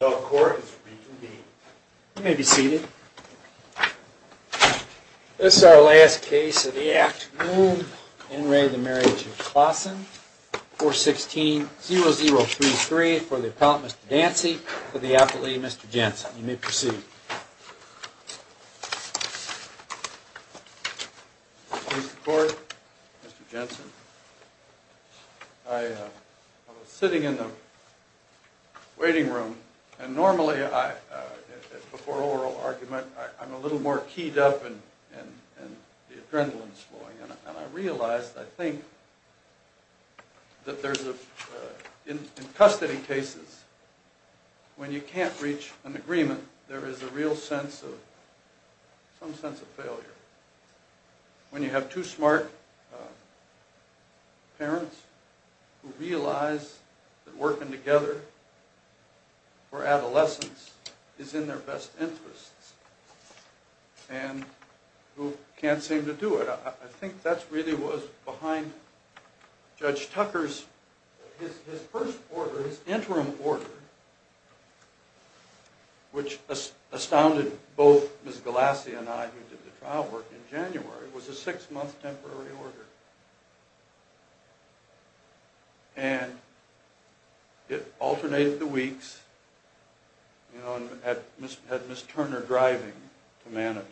The court may be seated. This is our last case of the act. In re the Marriage of Klaasen, 416-0033 for the appellant, Mr. Dancy, for the appellate, Mr. Jensen. You may proceed. Mr. Court, Mr. Jensen. I was sitting in the waiting room, and normally I, before oral argument, I'm a little more keyed up and the adrenaline's flowing. And I realized, I think, that there's a, in custody cases, when you can't reach an agreement, there is a real sense of, some sense of failure. When you have two smart parents who realize that working together for adolescence is in their best interests, and who can't seem to do it. I think that's really what was behind Judge Tucker's, his first order, his January, was a six-month temporary order. And it alternated the weeks, you know, and had Ms. Turner driving to Manitou.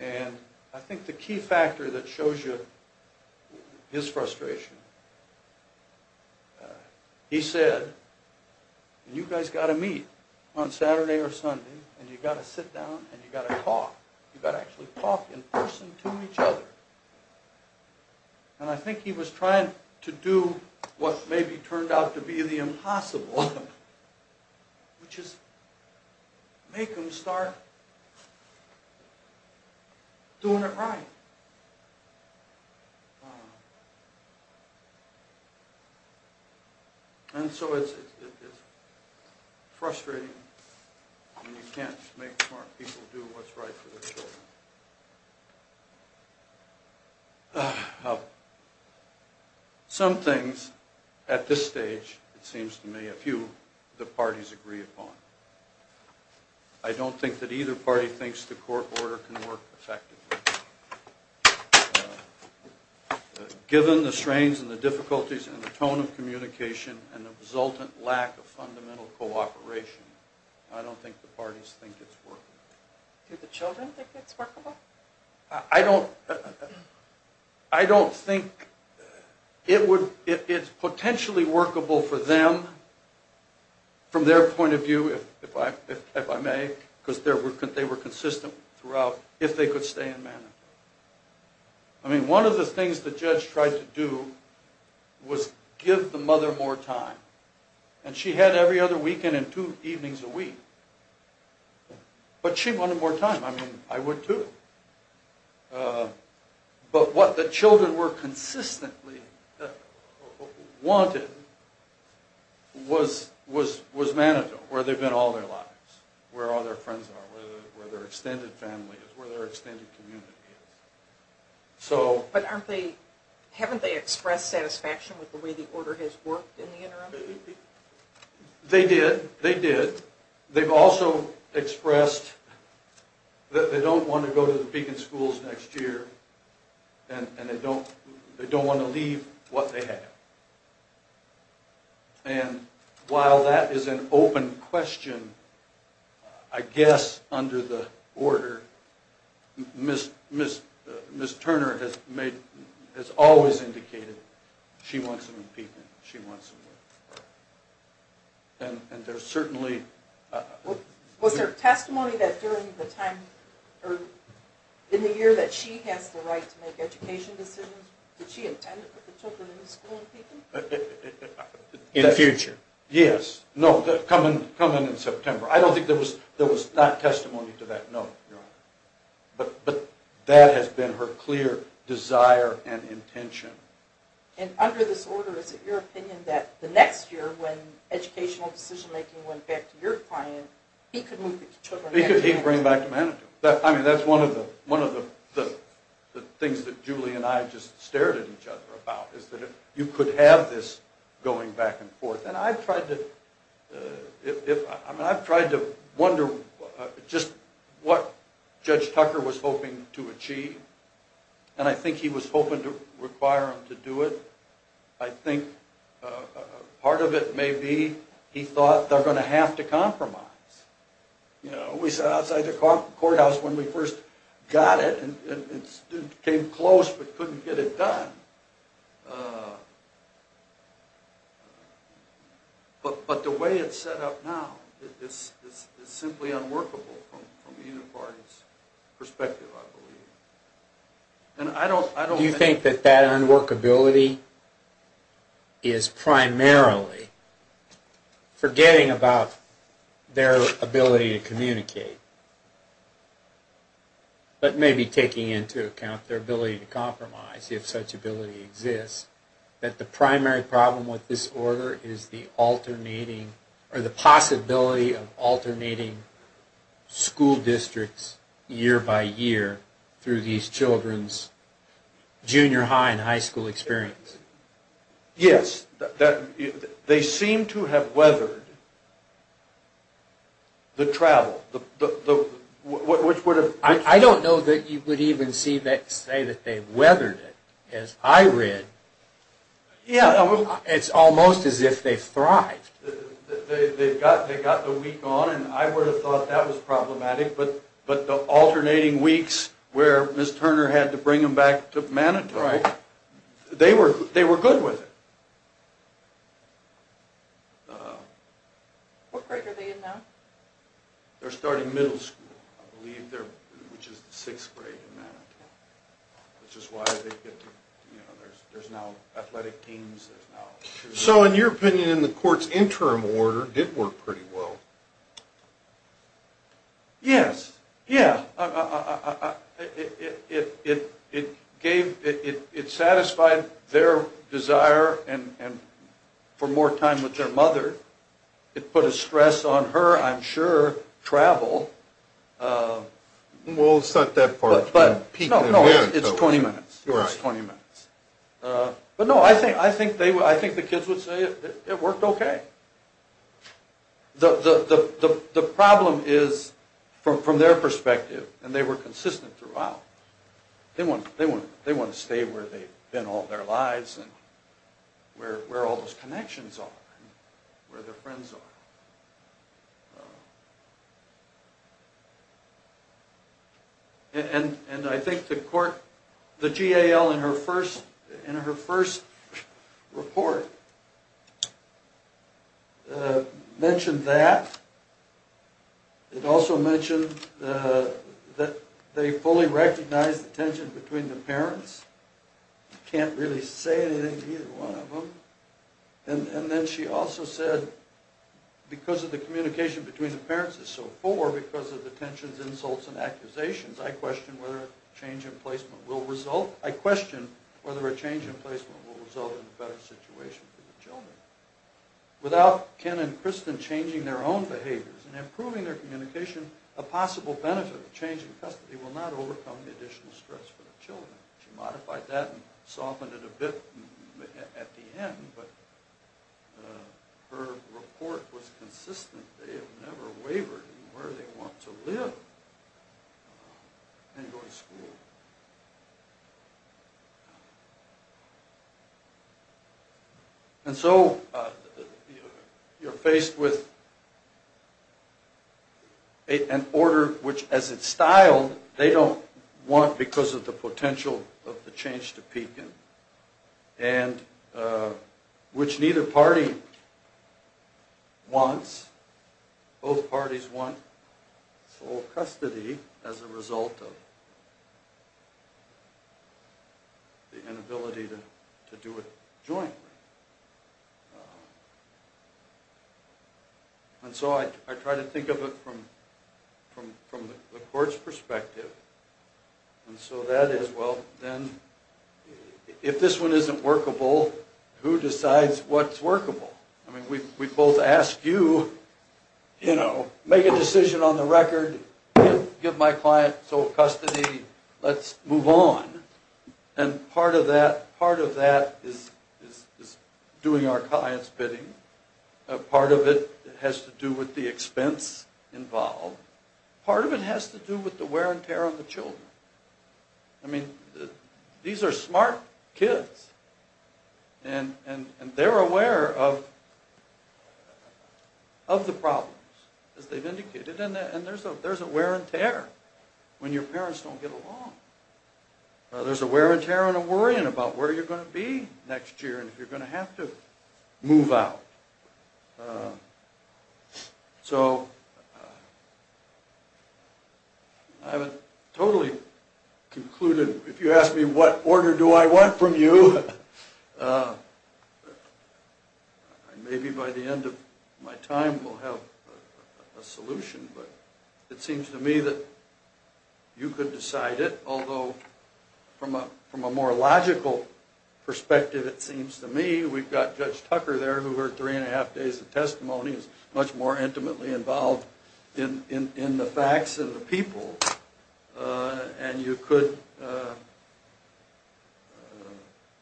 And I think the key factor that shows you his frustration, he said, you guys got to meet on Saturday or Sunday, and you got to sit down, and you got to talk. You got to actually talk in person to each other. And I think he was trying to do what maybe turned out to be the impossible, which is make them start doing it right. And so it's frustrating when you can't make smart people do what's right for their children. Some things, at this stage, it seems to me, a few of the parties agree upon. I don't think that either party thinks the court order can work effectively. Given the strains and the difficulties and the tone of communication and the resultant lack of fundamental cooperation, I don't think the parties think it's workable. Do the children think it's workable? I don't think it would, it's potentially workable for them, from their point of view, if I may, because they were consistent throughout, if they could stay in Manitou. I mean, one of the things the judge tried to do was give the mother more time. And she had every other weekend and two evenings a week. But she wanted more time, I mean, I would too. But what the children were consistently wanting was Manitou, where they've been all their lives, where all their friends are, where their extended family is, where their extended community is. But haven't they expressed satisfaction with the way the order has worked in the interim? They did, they did. They've also expressed that they don't want to go to the Beacon schools next year, and they don't want to leave what they have. And while that is an open question, I guess under the order, Ms. Turner has always indicated she wants them in Beacon, she wants them there. And there's certainly... Was there testimony that during the time, or in the year that she has the right to make education decisions, did she intend to put the children in the school in Beacon? In the future. Yes, no, coming in September. I don't think there was not testimony to that, no, Your Honor. But that has been her clear desire and intention. And under this order, is it your opinion that the next year, when educational decision-making went back to your client, he could move the children back to Manitou? He could bring them back to Manitou. I mean, that's one of the things that Julie and I just stared at each other about, is that you could have this going back and forth. And I've tried to wonder just what Judge Tucker was hoping to achieve. And I think he was hoping to require them to do it. I think part of it may be he thought they're going to have to compromise. You know, we sat outside the courthouse when we first got it, and came close, but couldn't get it done. But the way it's set up now, it's simply unworkable from either party's perspective, I believe. Do you think that that unworkability is primarily forgetting about their ability to communicate, but maybe taking into account their ability to compromise, if such ability exists, that the primary problem with this order is the alternating, the inability of alternating school districts year by year through these children's junior high and high school experience? Yes. They seem to have weathered the travel, which would have... I don't know that you would even say that they weathered it. As I read, it's almost as if they've thrived. They've got the week on, and I would have thought that was problematic, but the alternating weeks where Ms. Turner had to bring them back to Manitou, they were good with it. What grade are they in now? They're starting middle school, I believe, which is the sixth grade in Manitou. Which is why they get to, you know, there's now athletic teams, there's now... So, in your opinion, the court's interim order did work pretty well. Yes. Yeah. It gave... it satisfied their desire for more time with their mother. It put a stress on her, I'm sure, travel. Well, it's not that far... No, no, it's 20 minutes. It's 20 minutes. But no, I think the kids would say it worked okay. The problem is, from their perspective, and they were consistent throughout, they want to stay where they've been all their lives, and where all those connections are, where their friends are. And I think the court... the GAL, in her first report, mentioned that. It also mentioned that they fully recognized the tension between the parents. You can't really say anything to either one of them. And then she also said, because of the communication between the parents is so poor, because of the tensions, insults, and accusations, I question whether a change in placement will result... I question whether a change in placement will result in a better situation for the children. Without Ken and Kristen changing their own behaviors and improving their communication, a possible benefit of change in custody will not overcome the additional stress for the children. She modified that and softened it a bit at the end, but her report was consistent. They have never wavered in where they want to live and go to school. And so, you're faced with an order which, as it's styled, they don't want because of the potential of the change to Pekin, and which neither party wants. Both parties want full custody as a result of the inability to do it jointly. And so, I try to think of it from the court's perspective. And so, that is, well, then, if this one isn't workable, who decides what's workable? I mean, we both ask you, you know, make a decision on the record, give my client full custody, let's move on. And part of that is doing our client's bidding. Part of it has to do with the expense involved. Part of it has to do with the wear and tear on the children. I mean, these are smart kids. And they're aware of the problems, as they've indicated. And there's a wear and tear when your parents don't get along. There's a wear and tear and a worrying about where you're going to be next year and if you're going to have to move out. So, I would totally conclude, if you ask me what order do I want from you, maybe by the end of my time we'll have a solution. But it seems to me that you could decide it. Although, from a more logical perspective, it seems to me, we've got Judge Tucker there, who heard three and a half days of testimony, is much more intimately involved in the facts and the people. And you could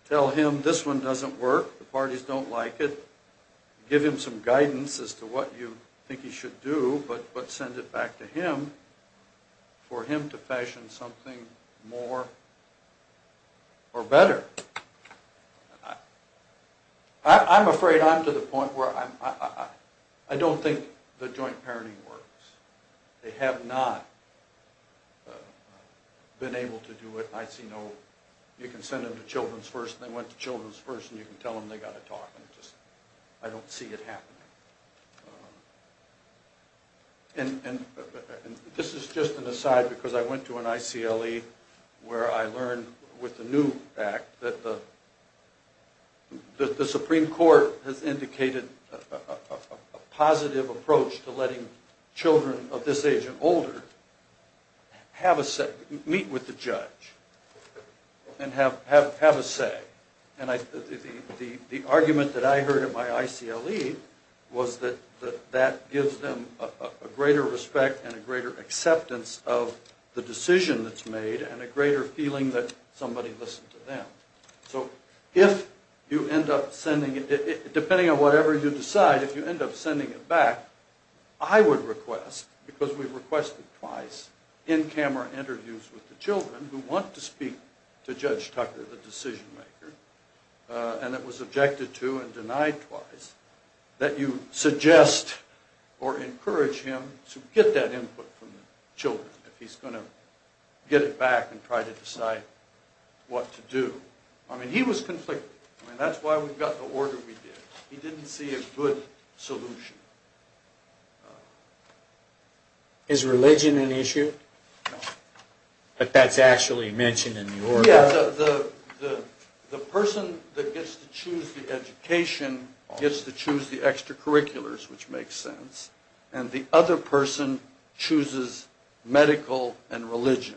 tell him, this one doesn't work, the parties don't like it. Give him some guidance as to what you think he should do, but send it back to him for him to fashion something more or better. I'm afraid I'm to the point where I don't think the joint parenting works. They have not been able to do it. I see no, you can send them to Children's First and they went to Children's First and you can tell them they've got to talk. I don't see it happening. And this is just an aside because I went to an ICLE where I learned, with the new act, that the Supreme Court has indicated a positive approach to letting children of this age and older meet with the judge and have a say. The argument that I heard at my ICLE was that that gives them a greater respect and a greater acceptance of the decision that's made and a greater feeling that somebody listened to them. So if you end up sending it, depending on whatever you decide, if you end up sending it back, I would request, because we've requested twice, in-camera interviews with the children who want to speak to Judge Tucker, the decision maker, and it was objected to and denied twice, that you suggest or encourage him to get that input from the children if he's going to get it back and try to decide what to do. I mean, he was conflicted. I mean, that's why we've got the order we did. He didn't see a good solution. Is religion an issue? No. But that's actually mentioned in the order. Yeah, the person that gets to choose the education gets to choose the extracurriculars, which makes sense, and the other person chooses medical and religion.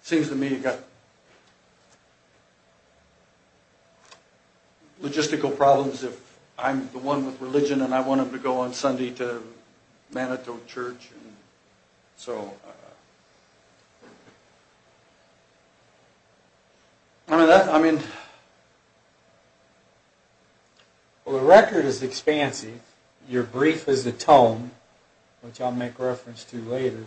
It seems to me you've got logistical problems if I'm the one with religion and I want him to go on Sunday to Manitou Church. I mean, the record is expansive. Your brief is the tone, which I'll make reference to later.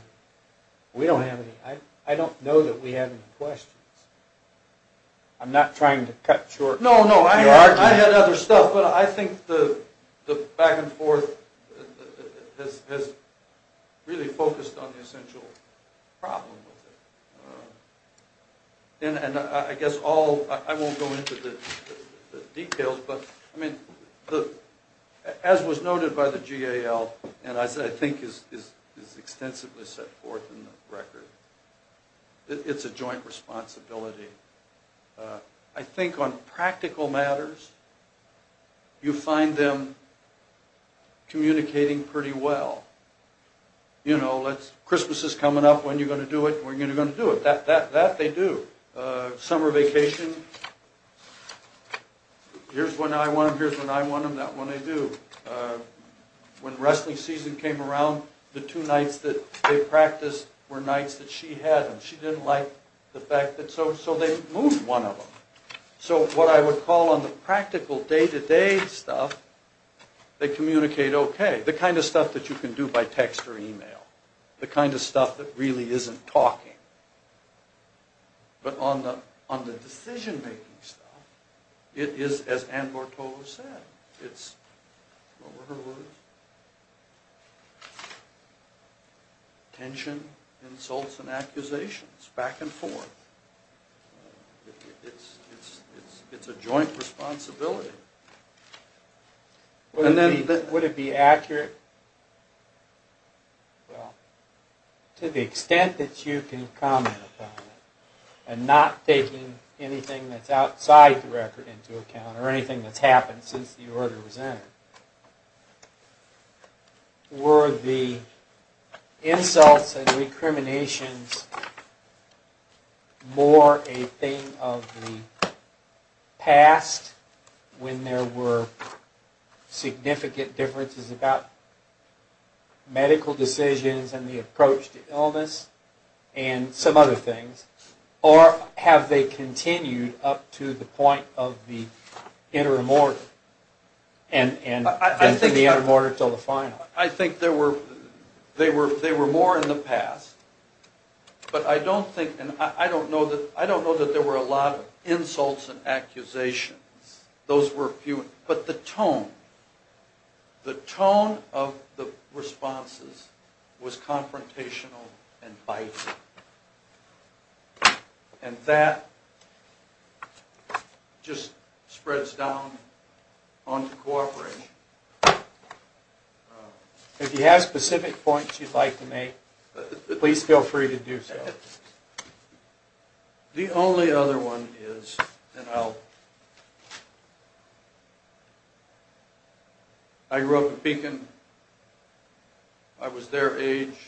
We don't have any, I don't know that we have any questions. I'm not trying to cut short your argument. No, no, I had other stuff, but I think the back and forth has really focused on the essential problem with it. And I guess all, I won't go into the details, but as was noted by the GAL, and as I think is extensively set forth in the record, it's a joint responsibility. I think on practical matters, you find them communicating pretty well. You know, Christmas is coming up, when are you going to do it? When are you going to do it? That they do. Summer vacation, here's when I want them, here's when I want them, that one they do. When wrestling season came around, the two nights that they practiced were nights that she had them. She didn't like the fact that, so they moved one of them. So what I would call on the practical day-to-day stuff, they communicate okay. The kind of stuff that you can do by text or email. The kind of stuff that really isn't talking. But on the decision-making stuff, it is as Ann Mortola said, it's, what were her words? Tension, insults, and accusations, back and forth. It's a joint responsibility. Would it be accurate? Well, to the extent that you can comment on it, and not taking anything that's outside the record into account, or anything that's happened since the order was entered. Were the insults and recriminations more a thing of the past? When there were significant differences about medical decisions and the approach to illness, and some other things. Or have they continued up to the point of the interim order? And from the interim order until the final. I think they were more in the past. But I don't think, and I don't know that there were a lot of insults and accusations. Those were few. But the tone. The tone of the responses was confrontational and biting. And that just spreads down onto cooperation. If you have specific points you'd like to make, please feel free to do so. The only other one is, I grew up in Beacon. I was their age,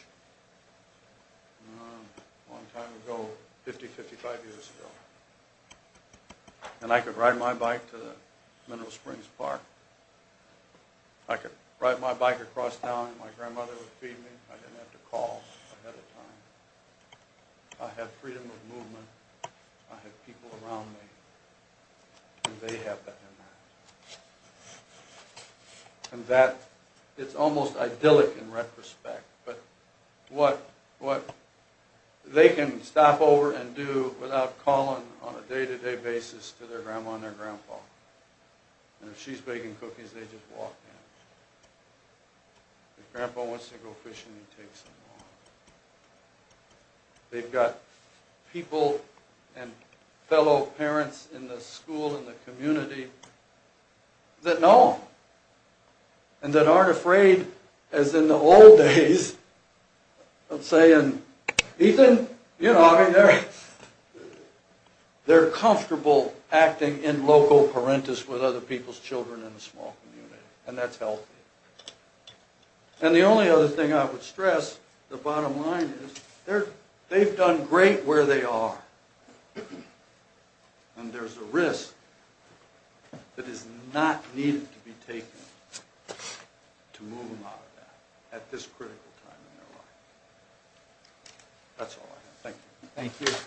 a long time ago, 50, 55 years ago. And I could ride my bike to Mineral Springs Park. I could ride my bike across town and my grandmother would feed me. I didn't have to call ahead of time. I had freedom of movement. I had people around me. And they have that in them. And that, it's almost idyllic in retrospect. But what they can stop over and do without calling on a day-to-day basis to their grandma and their grandpa. And if she's baking cookies, they just walk down. If grandpa wants to go fishing, he takes him along. They've got people and fellow parents in the school and the community that know. And that aren't afraid, as in the old days, of saying, Ethan, you know, I mean, they're comfortable acting in loco parentis with other people's children in the small community. And that's healthy. And the only other thing I would stress, the bottom line is, they've done great where they are. And there's a risk that is not needed to be taken to move them out of that at this critical time in their life. That's all I have. Thank you. Thank you.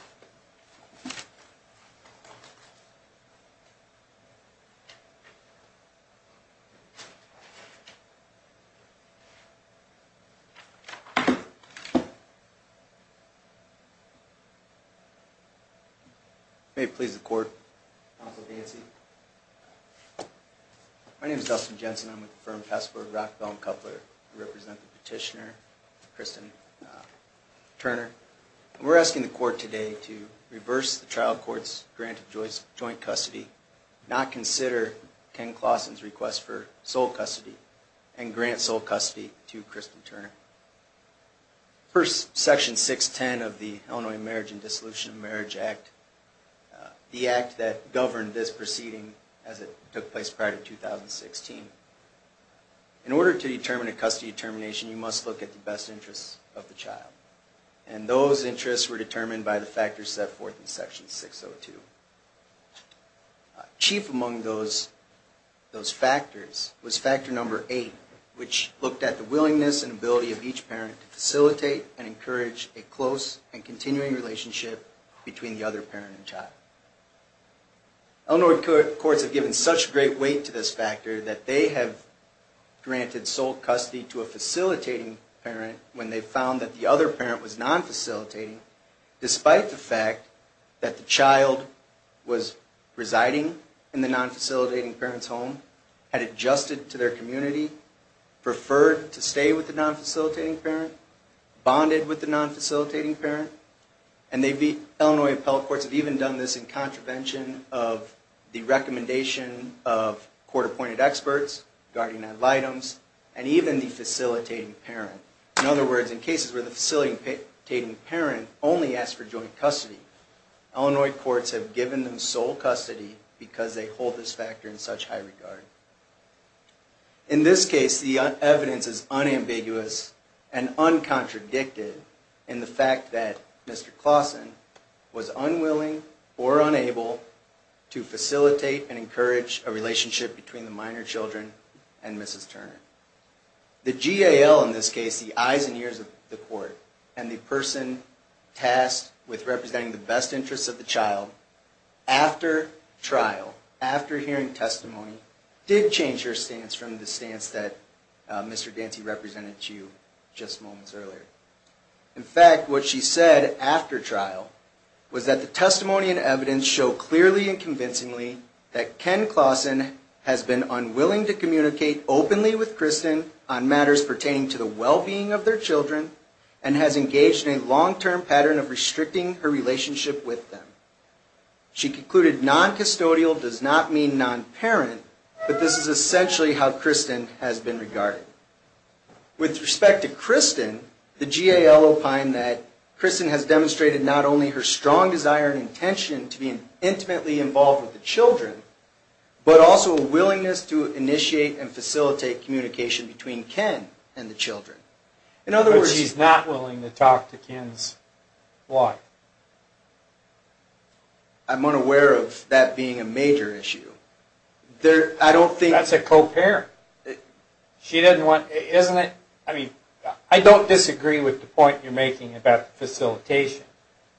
May it please the court. Counsel Dancy. My name is Dustin Jensen. I'm with the firm Passport of Rock, Bell, and Coupler. I represent the petitioner, Kristen. We're asking the court today to reverse the trial court's grant of joint custody, not consider Ken Clawson's request for sole custody, and grant sole custody to Kristen Turner. Section 610 of the Illinois Marriage and Dissolution of Marriage Act, the act that governed this proceeding as it took place prior to 2016. In order to determine a custody determination, you must look at the best interests of the child. And those interests were determined by the factors set forth in section 602. Chief among those factors was factor number eight, which looked at the willingness and ability of each parent to facilitate and encourage a close and continuing relationship between the other parent and child. Illinois courts have given such great weight to this factor that they have granted sole custody to a facilitating parent when they found that the other parent was non-facilitating, despite the fact that the child was residing in the non-facilitating parent's home, had adjusted to their community, preferred to stay with the non-facilitating parent, bonded with the non-facilitating parent, and Illinois appellate courts have even done this in contravention of the recommendation of court-appointed experts, guardian ad litems, and even the facilitating parent. In other words, in cases where the facilitating parent only asked for joint custody, Illinois courts have given them sole custody because they hold this factor in such high regard. In this case, the evidence is unambiguous and uncontradicted in the fact that Mr. Claussen was unwilling or unable to facilitate and encourage a relationship between the minor children and Mrs. Turner. The GAL, in this case, the eyes and ears of the court, and the person tasked with representing the best interests of the child, after trial, after hearing testimony, did change her stance from the stance that Mr. Dancy represented to you just moments earlier. In fact, what she said after trial was that the testimony and evidence show clearly and convincingly that Ken Claussen has been unwilling to communicate openly with Kristen on matters pertaining to the well-being of their children, and has engaged in a long-term pattern of restricting her relationship with them. She concluded non-custodial does not mean non-parent, but this is essentially how Kristen has been regarded. With respect to Kristen, the GAL opined that Kristen has demonstrated not only her strong desire and intention to be intimately involved with the children, but also a willingness to initiate and facilitate communication between Ken and the children. In other words... But she's not willing to talk to Ken's wife. I'm unaware of that being a major issue. That's a co-parent. She doesn't want... I don't disagree with the point you're making about the facilitation,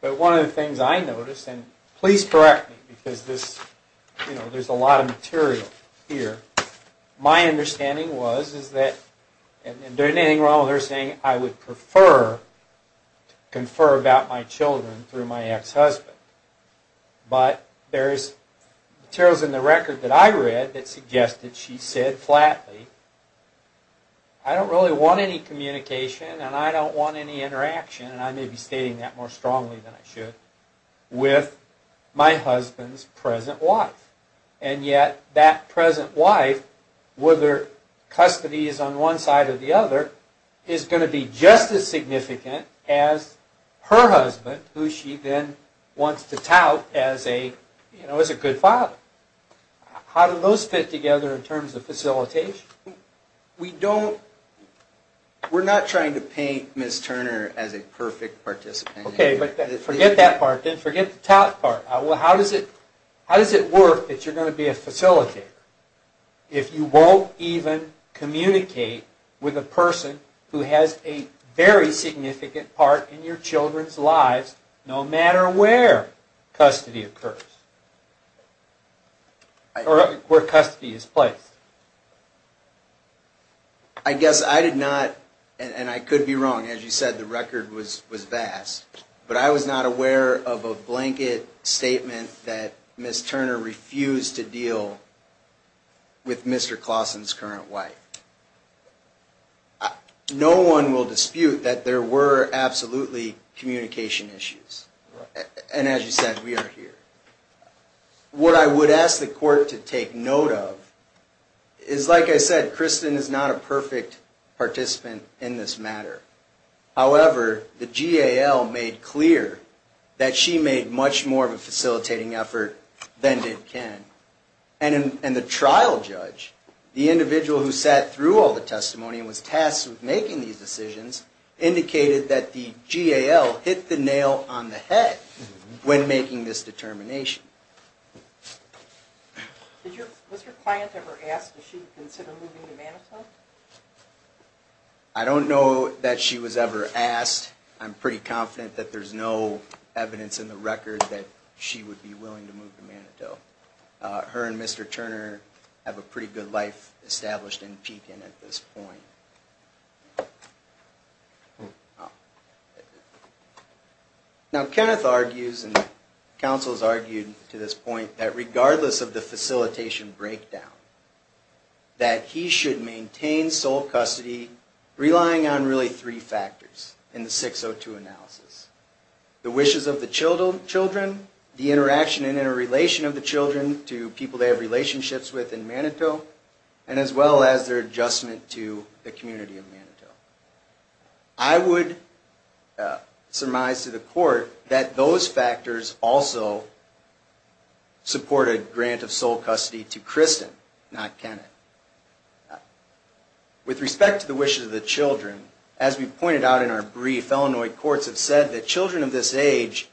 but one of the things I noticed, and please correct me, because there's a lot of material here. My understanding was, and there's nothing wrong with her saying, I would prefer to confer about my children through my ex-husband. But there's materials in the record that I read that suggested she said flatly, I don't really want any communication and I don't want any interaction, and I may be stating that more strongly than I should, with my husband's present wife. And yet, that present wife, whether custody is on one side or the other, is going to be just as significant as her husband, who she then wants to tout as a good father. How do those fit together in terms of facilitation? We're not trying to paint Ms. Turner as a perfect participant. Forget that part, forget the tout part. How does it work that you're going to be a facilitator if you won't even communicate with a person who has a very significant part in your children's lives no matter where custody occurs? Or where custody is placed? I guess I did not, and I could be wrong, as you said, the record was vast, but I was not aware of a blanket statement that Ms. Turner refused to deal with Mr. Clausen's current wife. No one will dispute that there were absolutely communication issues. And as you said, we are here. What I would ask the court to take note of is, like I said, Kristen is not a perfect participant in this matter. However, the GAL made clear that she made much more of a facilitating effort than did Ken. And the trial judge, the individual who sat through all the testimony and was tasked with making these decisions, indicated that the GAL hit the nail on the head when making this determination. Was your client ever asked if she would consider moving to Manitou? I don't know that she was ever asked. I'm pretty confident that there's no evidence in the record that she would be willing to move to Manitou. Her and Mr. Turner have a pretty good life established in Pekin at this point. Now, Kenneth argues, and counsel has argued, to this point, that regardless of the facilitation breakdown, that he should maintain sole custody, relying on really three factors in the 602 analysis. The wishes of the children, the interaction and interrelation of the children to people they have relationships with in Manitou, and as well as their adjustment to the community of Manitou. I would surmise to the court that those factors also support a grant of sole custody to Kristen, not Kenneth. With respect to the wishes of the children, as we pointed out in our brief, Illinois courts have said that children of this age,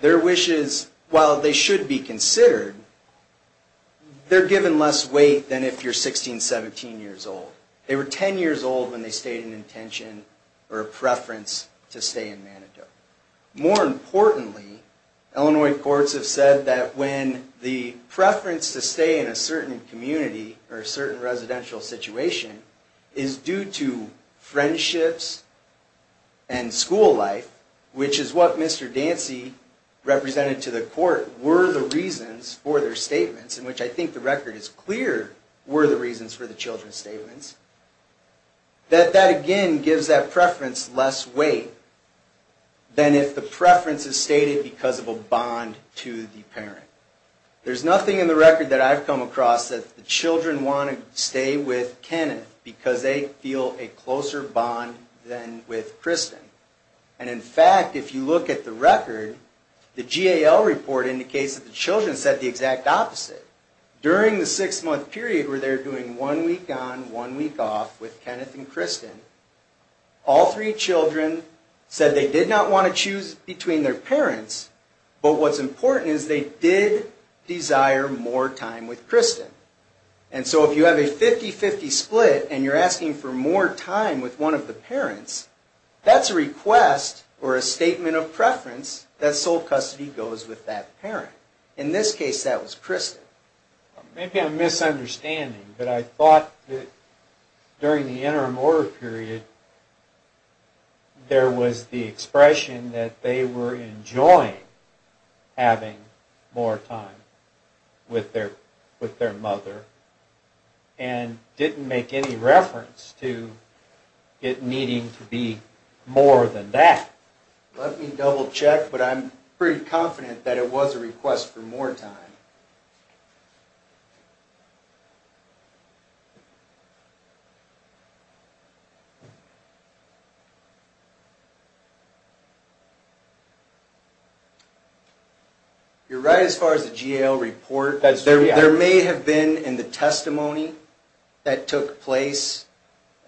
their wishes, while they should be considered, they're given less weight than if you're 16, 17 years old. They were 10 years old when they stated an intention or a preference to stay in Manitou. More importantly, Illinois courts have said that when the preference to stay in a certain community, or a certain residential situation, is due to friendships and school life, which is what Mr. Dancy represented to the court, were the reasons for their statements, in which I think the record is clear, were the reasons for the children's statements, that that again gives that preference less weight than if the preference was due to a bond to the parent. There's nothing in the record that I've come across that the children want to stay with Kenneth because they feel a closer bond than with Kristen. And in fact, if you look at the record, the GAL report indicates that the children said the exact opposite. During the six-month period where they're doing one week on, one week off with Kenneth and Kristen, all three children said they did not want to choose between their parents, but what's important is they did desire more time with Kristen. And so if you have a 50-50 split and you're asking for more time with one of the parents, that's a request, or a statement of preference, that sole custody goes with that parent. In this case, that was Kristen. Maybe I'm misunderstanding, but I thought that during the interim order period there was the expression that they were enjoying having more time with their mother and didn't make any reference to it needing to be more than that. Let me double-check, but I'm pretty confident that it was a request for more time. You're right as far as the GAL report. There may have been in the testimony that took place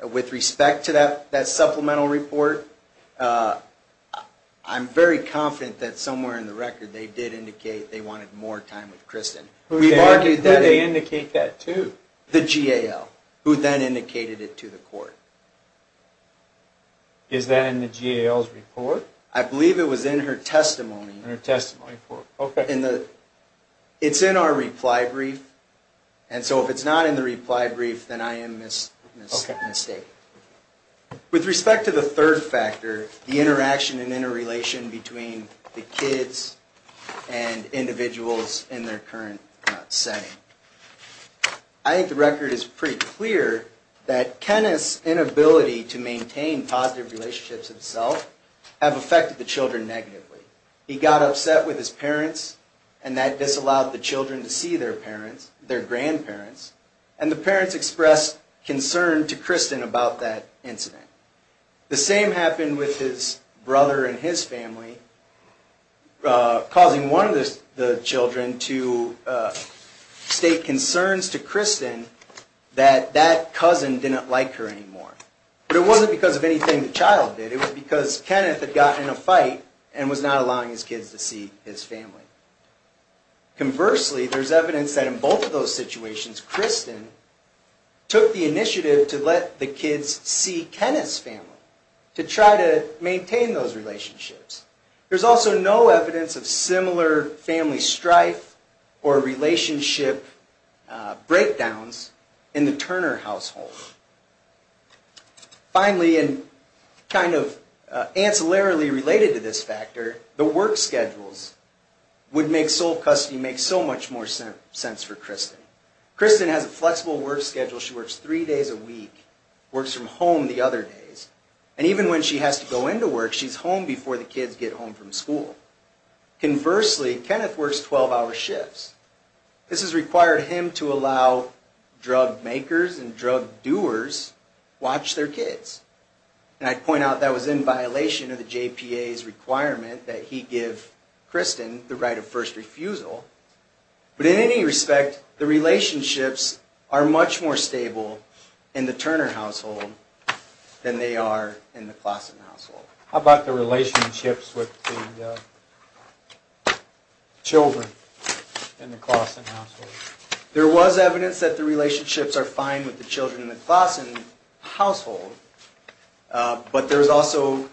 with respect to that supplemental report, I'm very confident that somewhere in the record they did indicate they wanted more time with Kristen. They indicate that too. The GAL, who then indicated it to the court. Is that in the GAL's report? I believe it was in her testimony. It's in our reply brief, and so if it's not in the reply brief, then I am mistaken. With respect to the third factor, the interaction and interrelation between the kids and individuals in their current setting, I think the record is pretty clear that Kenna's inability to maintain positive relationships himself have affected the children negatively. He got upset with his parents, and that disallowed the children to see their grandparents, and the parents expressed concern to Kristen about that incident. The same happened with his brother and his family, causing one of the children to state concerns to Kristen that that cousin didn't like her anymore. But it wasn't because of anything the child did. It was because Kenneth had gotten in a fight and was not allowing his kids to see his family. Conversely, there's evidence that in both of those situations, Kristen took the initiative to let the kids see Kenneth's family, to try to maintain those relationships. There's also no evidence of similar family strife or relationship breakdowns in the Turner household. Finally, and kind of ancillarily related to this factor, the work schedules would make sole custody make so much more sense for Kristen. Kristen has a flexible work schedule. She works three days a week, works from home the other days, and even when she has to go into work, she's home before the kids get home from school. Conversely, Kenneth works 12-hour shifts. This has required him to allow drug makers and drug doers to watch their kids. And I'd point out that was in violation of the JPA's requirement that he give Kristen the right of first refusal. But in any respect, the relationships are much more stable in the Turner household than they are in the Klassen household. How about the relationships with the children in the Klassen household? There was evidence that the relationships are fine with the children in the Klassen household, but there was also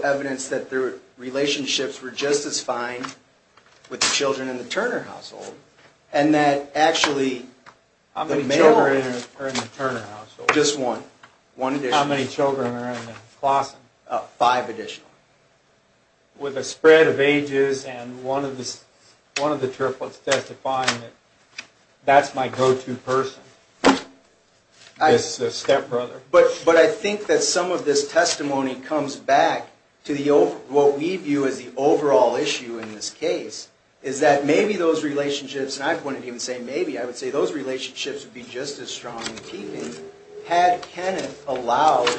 evidence that the relationships were just as fine with the children in the Turner household. And that actually How many children are in the Turner household? Just one. How many children are in the Klassen? Five additional. With the spread of ages and one of the triplets testifying, that's my go-to person. The stepbrother. But I think that some of this testimony comes back to what we view as the overall issue in this case is that maybe those relationships and I wouldn't even say maybe, I would say those relationships would be just as strong had Kenneth allowed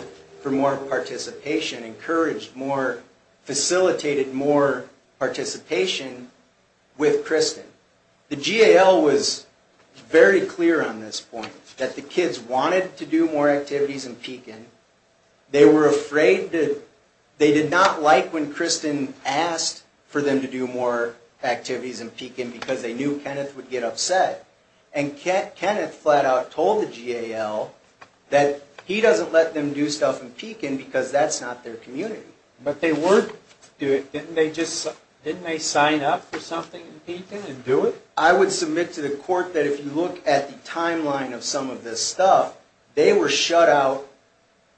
for more participation encouraged more facilitated more participation with Kristen. The GAL was very clear on this point. That the kids wanted to do more activities in Pekin. They were afraid that they did not like when Kristen asked for them to do more activities in Pekin because they knew Kenneth would get upset. And Kenneth flat out told the GAL that he doesn't let them do stuff in Pekin because that's not their community. But they were didn't they sign up for something in Pekin and do it? I would submit to the court that if you look at the timeline of some of this stuff they were shut out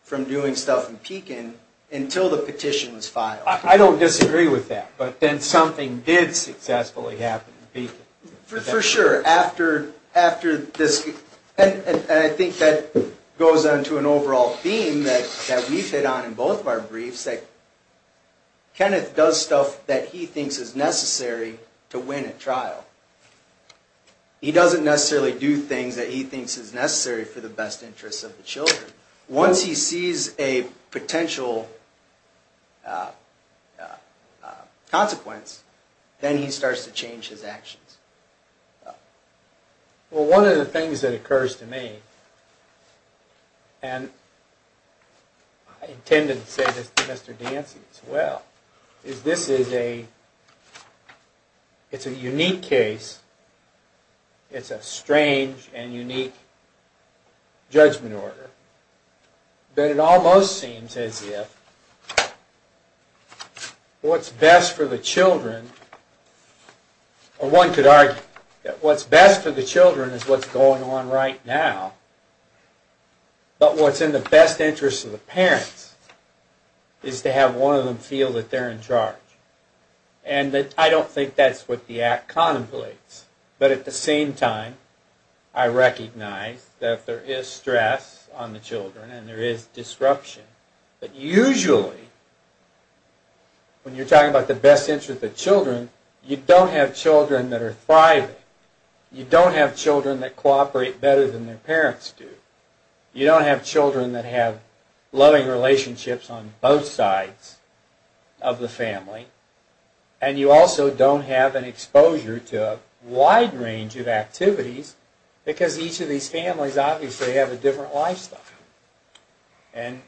from doing stuff in Pekin until the petition was filed. I don't disagree with that. But then something did successfully happen in Pekin. For sure. And I think that goes onto an overall theme that we fit on in both of our briefs that Kenneth does stuff that he thinks is necessary to win a trial. He doesn't necessarily do things that he thinks is necessary for the best interests of the children. Once he sees a potential consequence then he starts to change his actions. Well one of the things that occurs to me and I intended to say this to Mr. Dancy as well is this is a it's a unique case it's a strange and unique judgment order that it almost seems as if what's best for the children or one could argue what's best for the children is what's going on right now but what's in the best interest of the parents is to have one of them feel that they're in charge and I don't think that's what the act contemplates but at the same time I recognize that there is stress on the children and there is disruption but usually when you're talking about the best interest of the children you don't have children that are thriving you don't have children that cooperate better than their parents do you don't have children that have loving relationships on both sides of the family and you also don't have an exposure to a wide range of activities because each of these families obviously have a different lifestyle and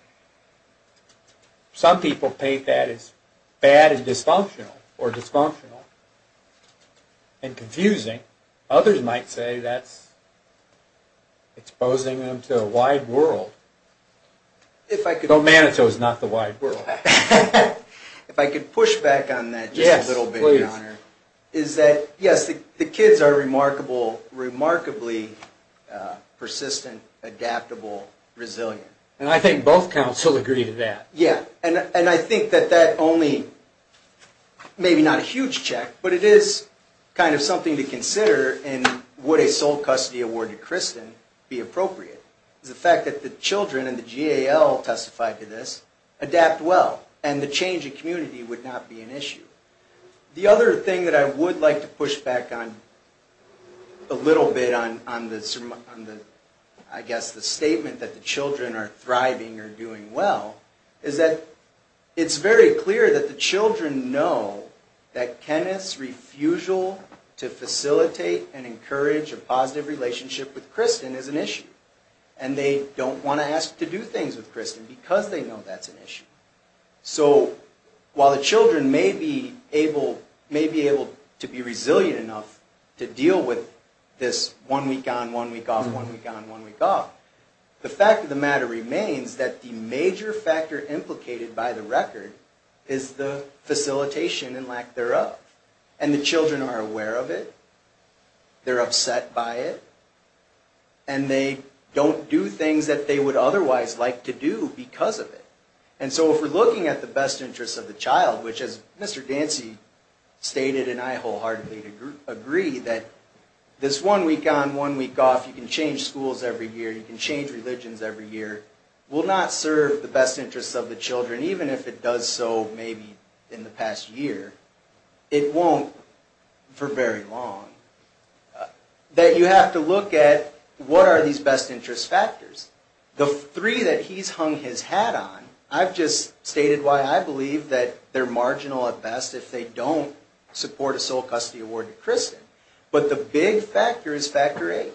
some people paint that as bad and dysfunctional or dysfunctional and confusing others might say that's exposing them to a wide world but Manitou is not the wide world if I could push back on that just a little bit is that yes the kids are remarkably persistent, adaptable resilient and I think both counsel agree to that and I think that that only maybe not a huge check but it is kind of something to consider and would a sole custody award to Kristen be appropriate is the fact that the children and the GAL testified to this, adapt well and the change in community would not be an issue. The other thing that I would like to push back on a little bit on the I guess the statement that the children are thriving or doing well is that it's very clear that the children know that Kenneth's refusal to facilitate and encourage a positive relationship with and they don't want to ask to do things with Kristen because they know that's an issue so while the children may be able to be resilient enough to deal with this one week on, one week off, one week on, one week off the fact of the matter remains that the major factor implicated by the record is the facilitation and lack thereof and the children are aware of it they're upset by it and they don't do things that they would otherwise like to do because of it and so if we're looking at the best interests of the child which as Mr. Dancy stated and I wholeheartedly agree that this one week on, one week off, you can change schools every year you can change religions every year will not serve the best interests of the children even if it does so maybe in the past year it won't for very long that you have to look at what are these best interest factors the three that he's hung his hat on, I've just stated why I believe that they're marginal at best if they don't support a sole custody award to Kristen but the big factor is factor eight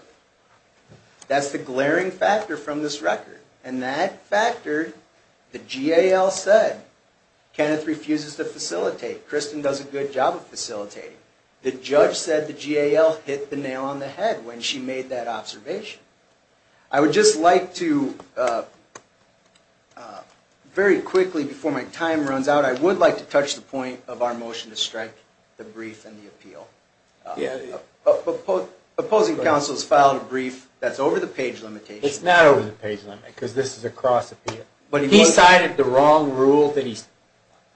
that's the glaring factor from this record and that factor the GAL said Kenneth refuses to facilitate Kristen does a good job of facilitating the judge said the GAL hit the nail on the head when she made that observation I would just like to very quickly before my time runs out I would like to touch the point of our motion to strike the brief and the appeal opposing council has filed a brief that's over the page limitation. It's not over the page limitation because this is a cross appeal he cited the wrong rule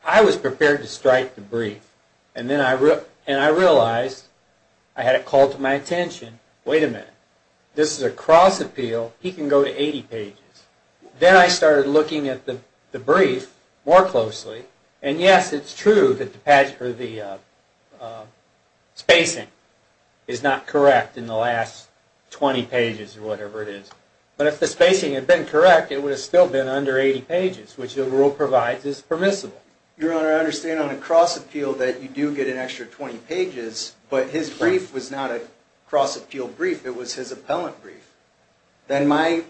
I was prepared to strike the brief and I realized I had it called to my attention wait a minute, this is a cross appeal, he can go to 80 pages then I started looking at the brief more closely and yes it's true that the spacing is not correct in the last 20 pages or whatever it is but if the spacing had been correct it would have still been under 80 pages which the rule provides is permissible your honor I understand on a cross appeal that you do get an extra 20 pages but his brief was not a cross appeal brief it was his appellant brief then my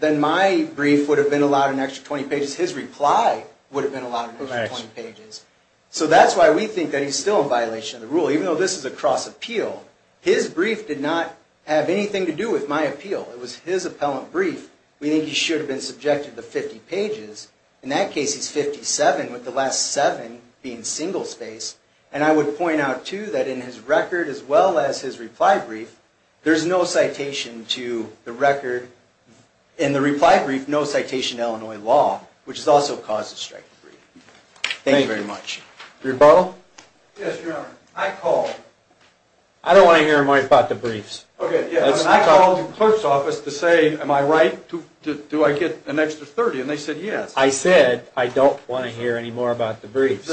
brief would have been allowed an extra 20 pages his reply would have been allowed an extra 20 pages so that's why we think that he's still in violation of the rule even though this is a cross appeal his brief did not have anything to do with my appeal it was his appellant brief we think he should have been subjected to 50 pages in that case he's 57 with the last 7 being single spaced and I would point out too that in his record as well as his reply brief there's no citation to the record in the reply brief no citation to Illinois law which is also cause of strike thank you very much your honor I called I don't want to hear more about the briefs I called the clerk's office to say am I right do I get an extra 30 I said I don't want to hear anymore about the briefs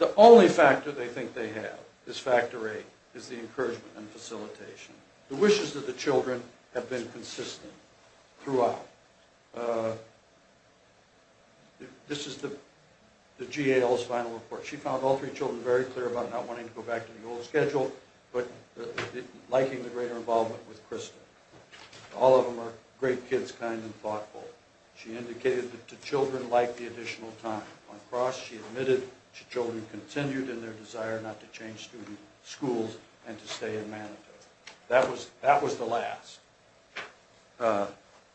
the only factor they think they have is factor 8 is the encouragement and facilitation the wishes of the children have been consistent throughout this is the GAO's final report she found all three children very clear about not wanting to go back to the old schedule but liking the greater involvement with Krista all of them are great kids she indicated that the children liked the additional time she admitted the children continued in their desire not to change schools and to stay in Manitoba that was the last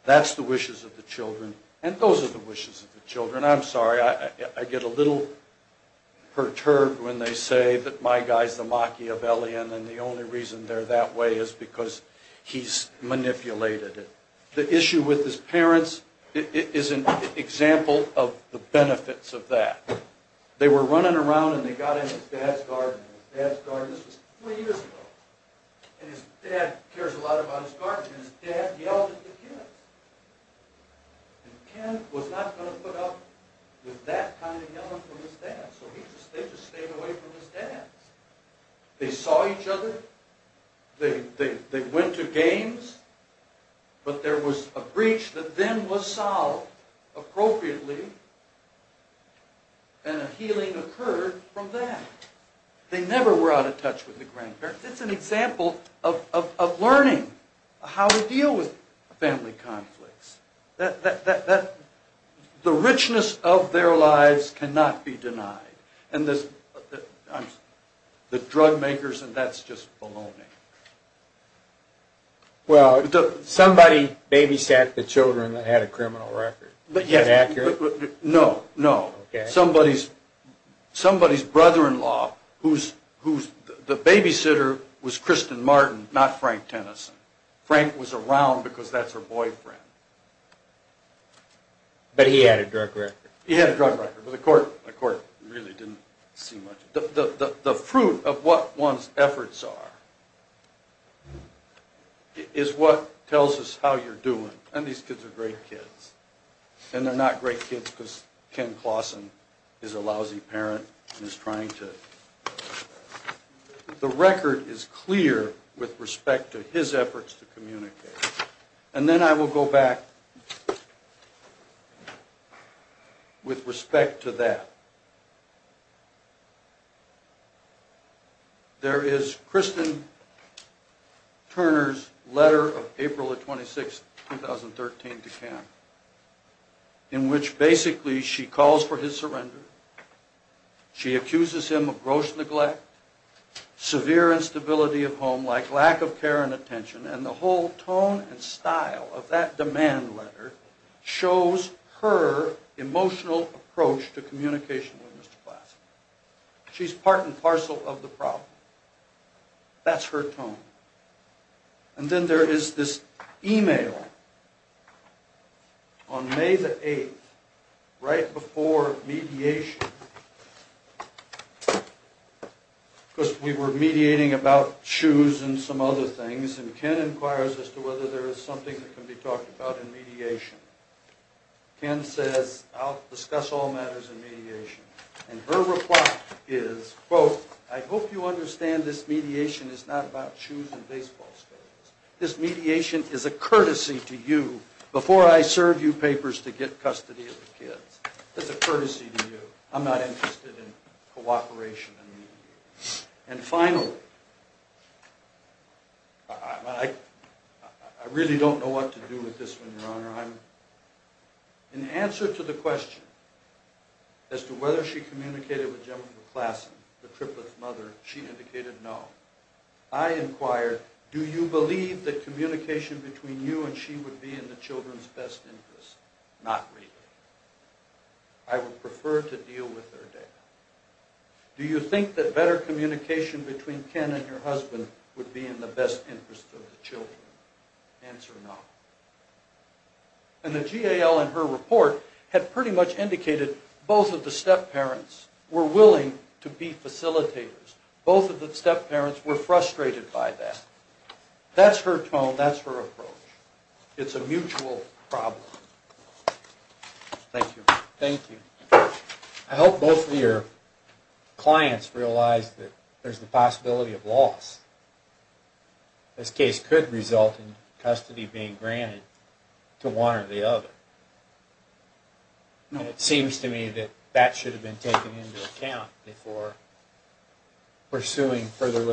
that's the wishes of the children and those are the wishes of the children I'm sorry I get a little perturbed when they say that my guy's the Maki of L.E.N. and the only reason they're that way is because he's manipulated the issue with his parents is an example of the benefits of that they were running around and they got in his dad's garden this was three years ago and his dad cares a lot about his garden and his dad yelled at the kids and Ken was not going to put up with that kind of yelling from his dad so they just stayed away from his dad they saw each other they went to games but there was a breach that then was solved appropriately and a healing occurred from that they never were out of touch with the grandparents it's an example of learning how to deal with family conflicts the richness of their lives cannot be denied and this the drug makers and that's just baloney well somebody babysat the children that had a criminal record is that accurate? no somebody's brother-in-law the babysitter was Kristen Martin not Frank Tennyson Frank was around because that's her boyfriend but he had a drug record he had a drug record but the court really didn't see much the fruit of what one's efforts are is what tells us how you're doing and these kids are great kids and they're not great kids because Ken Clausen is a lousy parent and is trying to the record is clear with respect to his efforts to communicate and then I will go back with respect to that there is Kristen Turner's letter of April 26, 2013 to Ken in which basically she calls for his surrender she accuses him of gross neglect severe instability of home like lack of care and attention and the whole tone and style of that demand letter shows her emotional approach to communication with Mr. Clausen she's part and parcel of the problem that's her tone and then there is this email on May the 8th right before mediation because we were mediating about shoes and some other things and Ken inquires as to whether there is something that can be talked about in mediation Ken says I'll discuss all matters in mediation and her reply is I hope you understand this mediation is not about shoes and baseball this mediation is a courtesy to you before I serve you papers to get custody of the kids I'm not interested in cooperation and finally I really don't know what to do with this one your honor in answer to the question as to whether she communicated with Jennifer Clausen the triplet's mother she indicated no I inquired do you believe that communication between you and she would be in the children's best interest not really I would prefer to deal with her data do you think that better communication between Ken and her husband would be in the best interest of the children answer no and the GAL in her report had pretty much indicated both of the step parents were willing to be facilitators both of the step parents were frustrated by that that's her tone that's her approach it's a mutual problem thank you I hope both of your clients realize that there's the possibility of loss this case could result in custody being granted to one or the other and it seems to me that that should have been taken into account before pursuing further litigation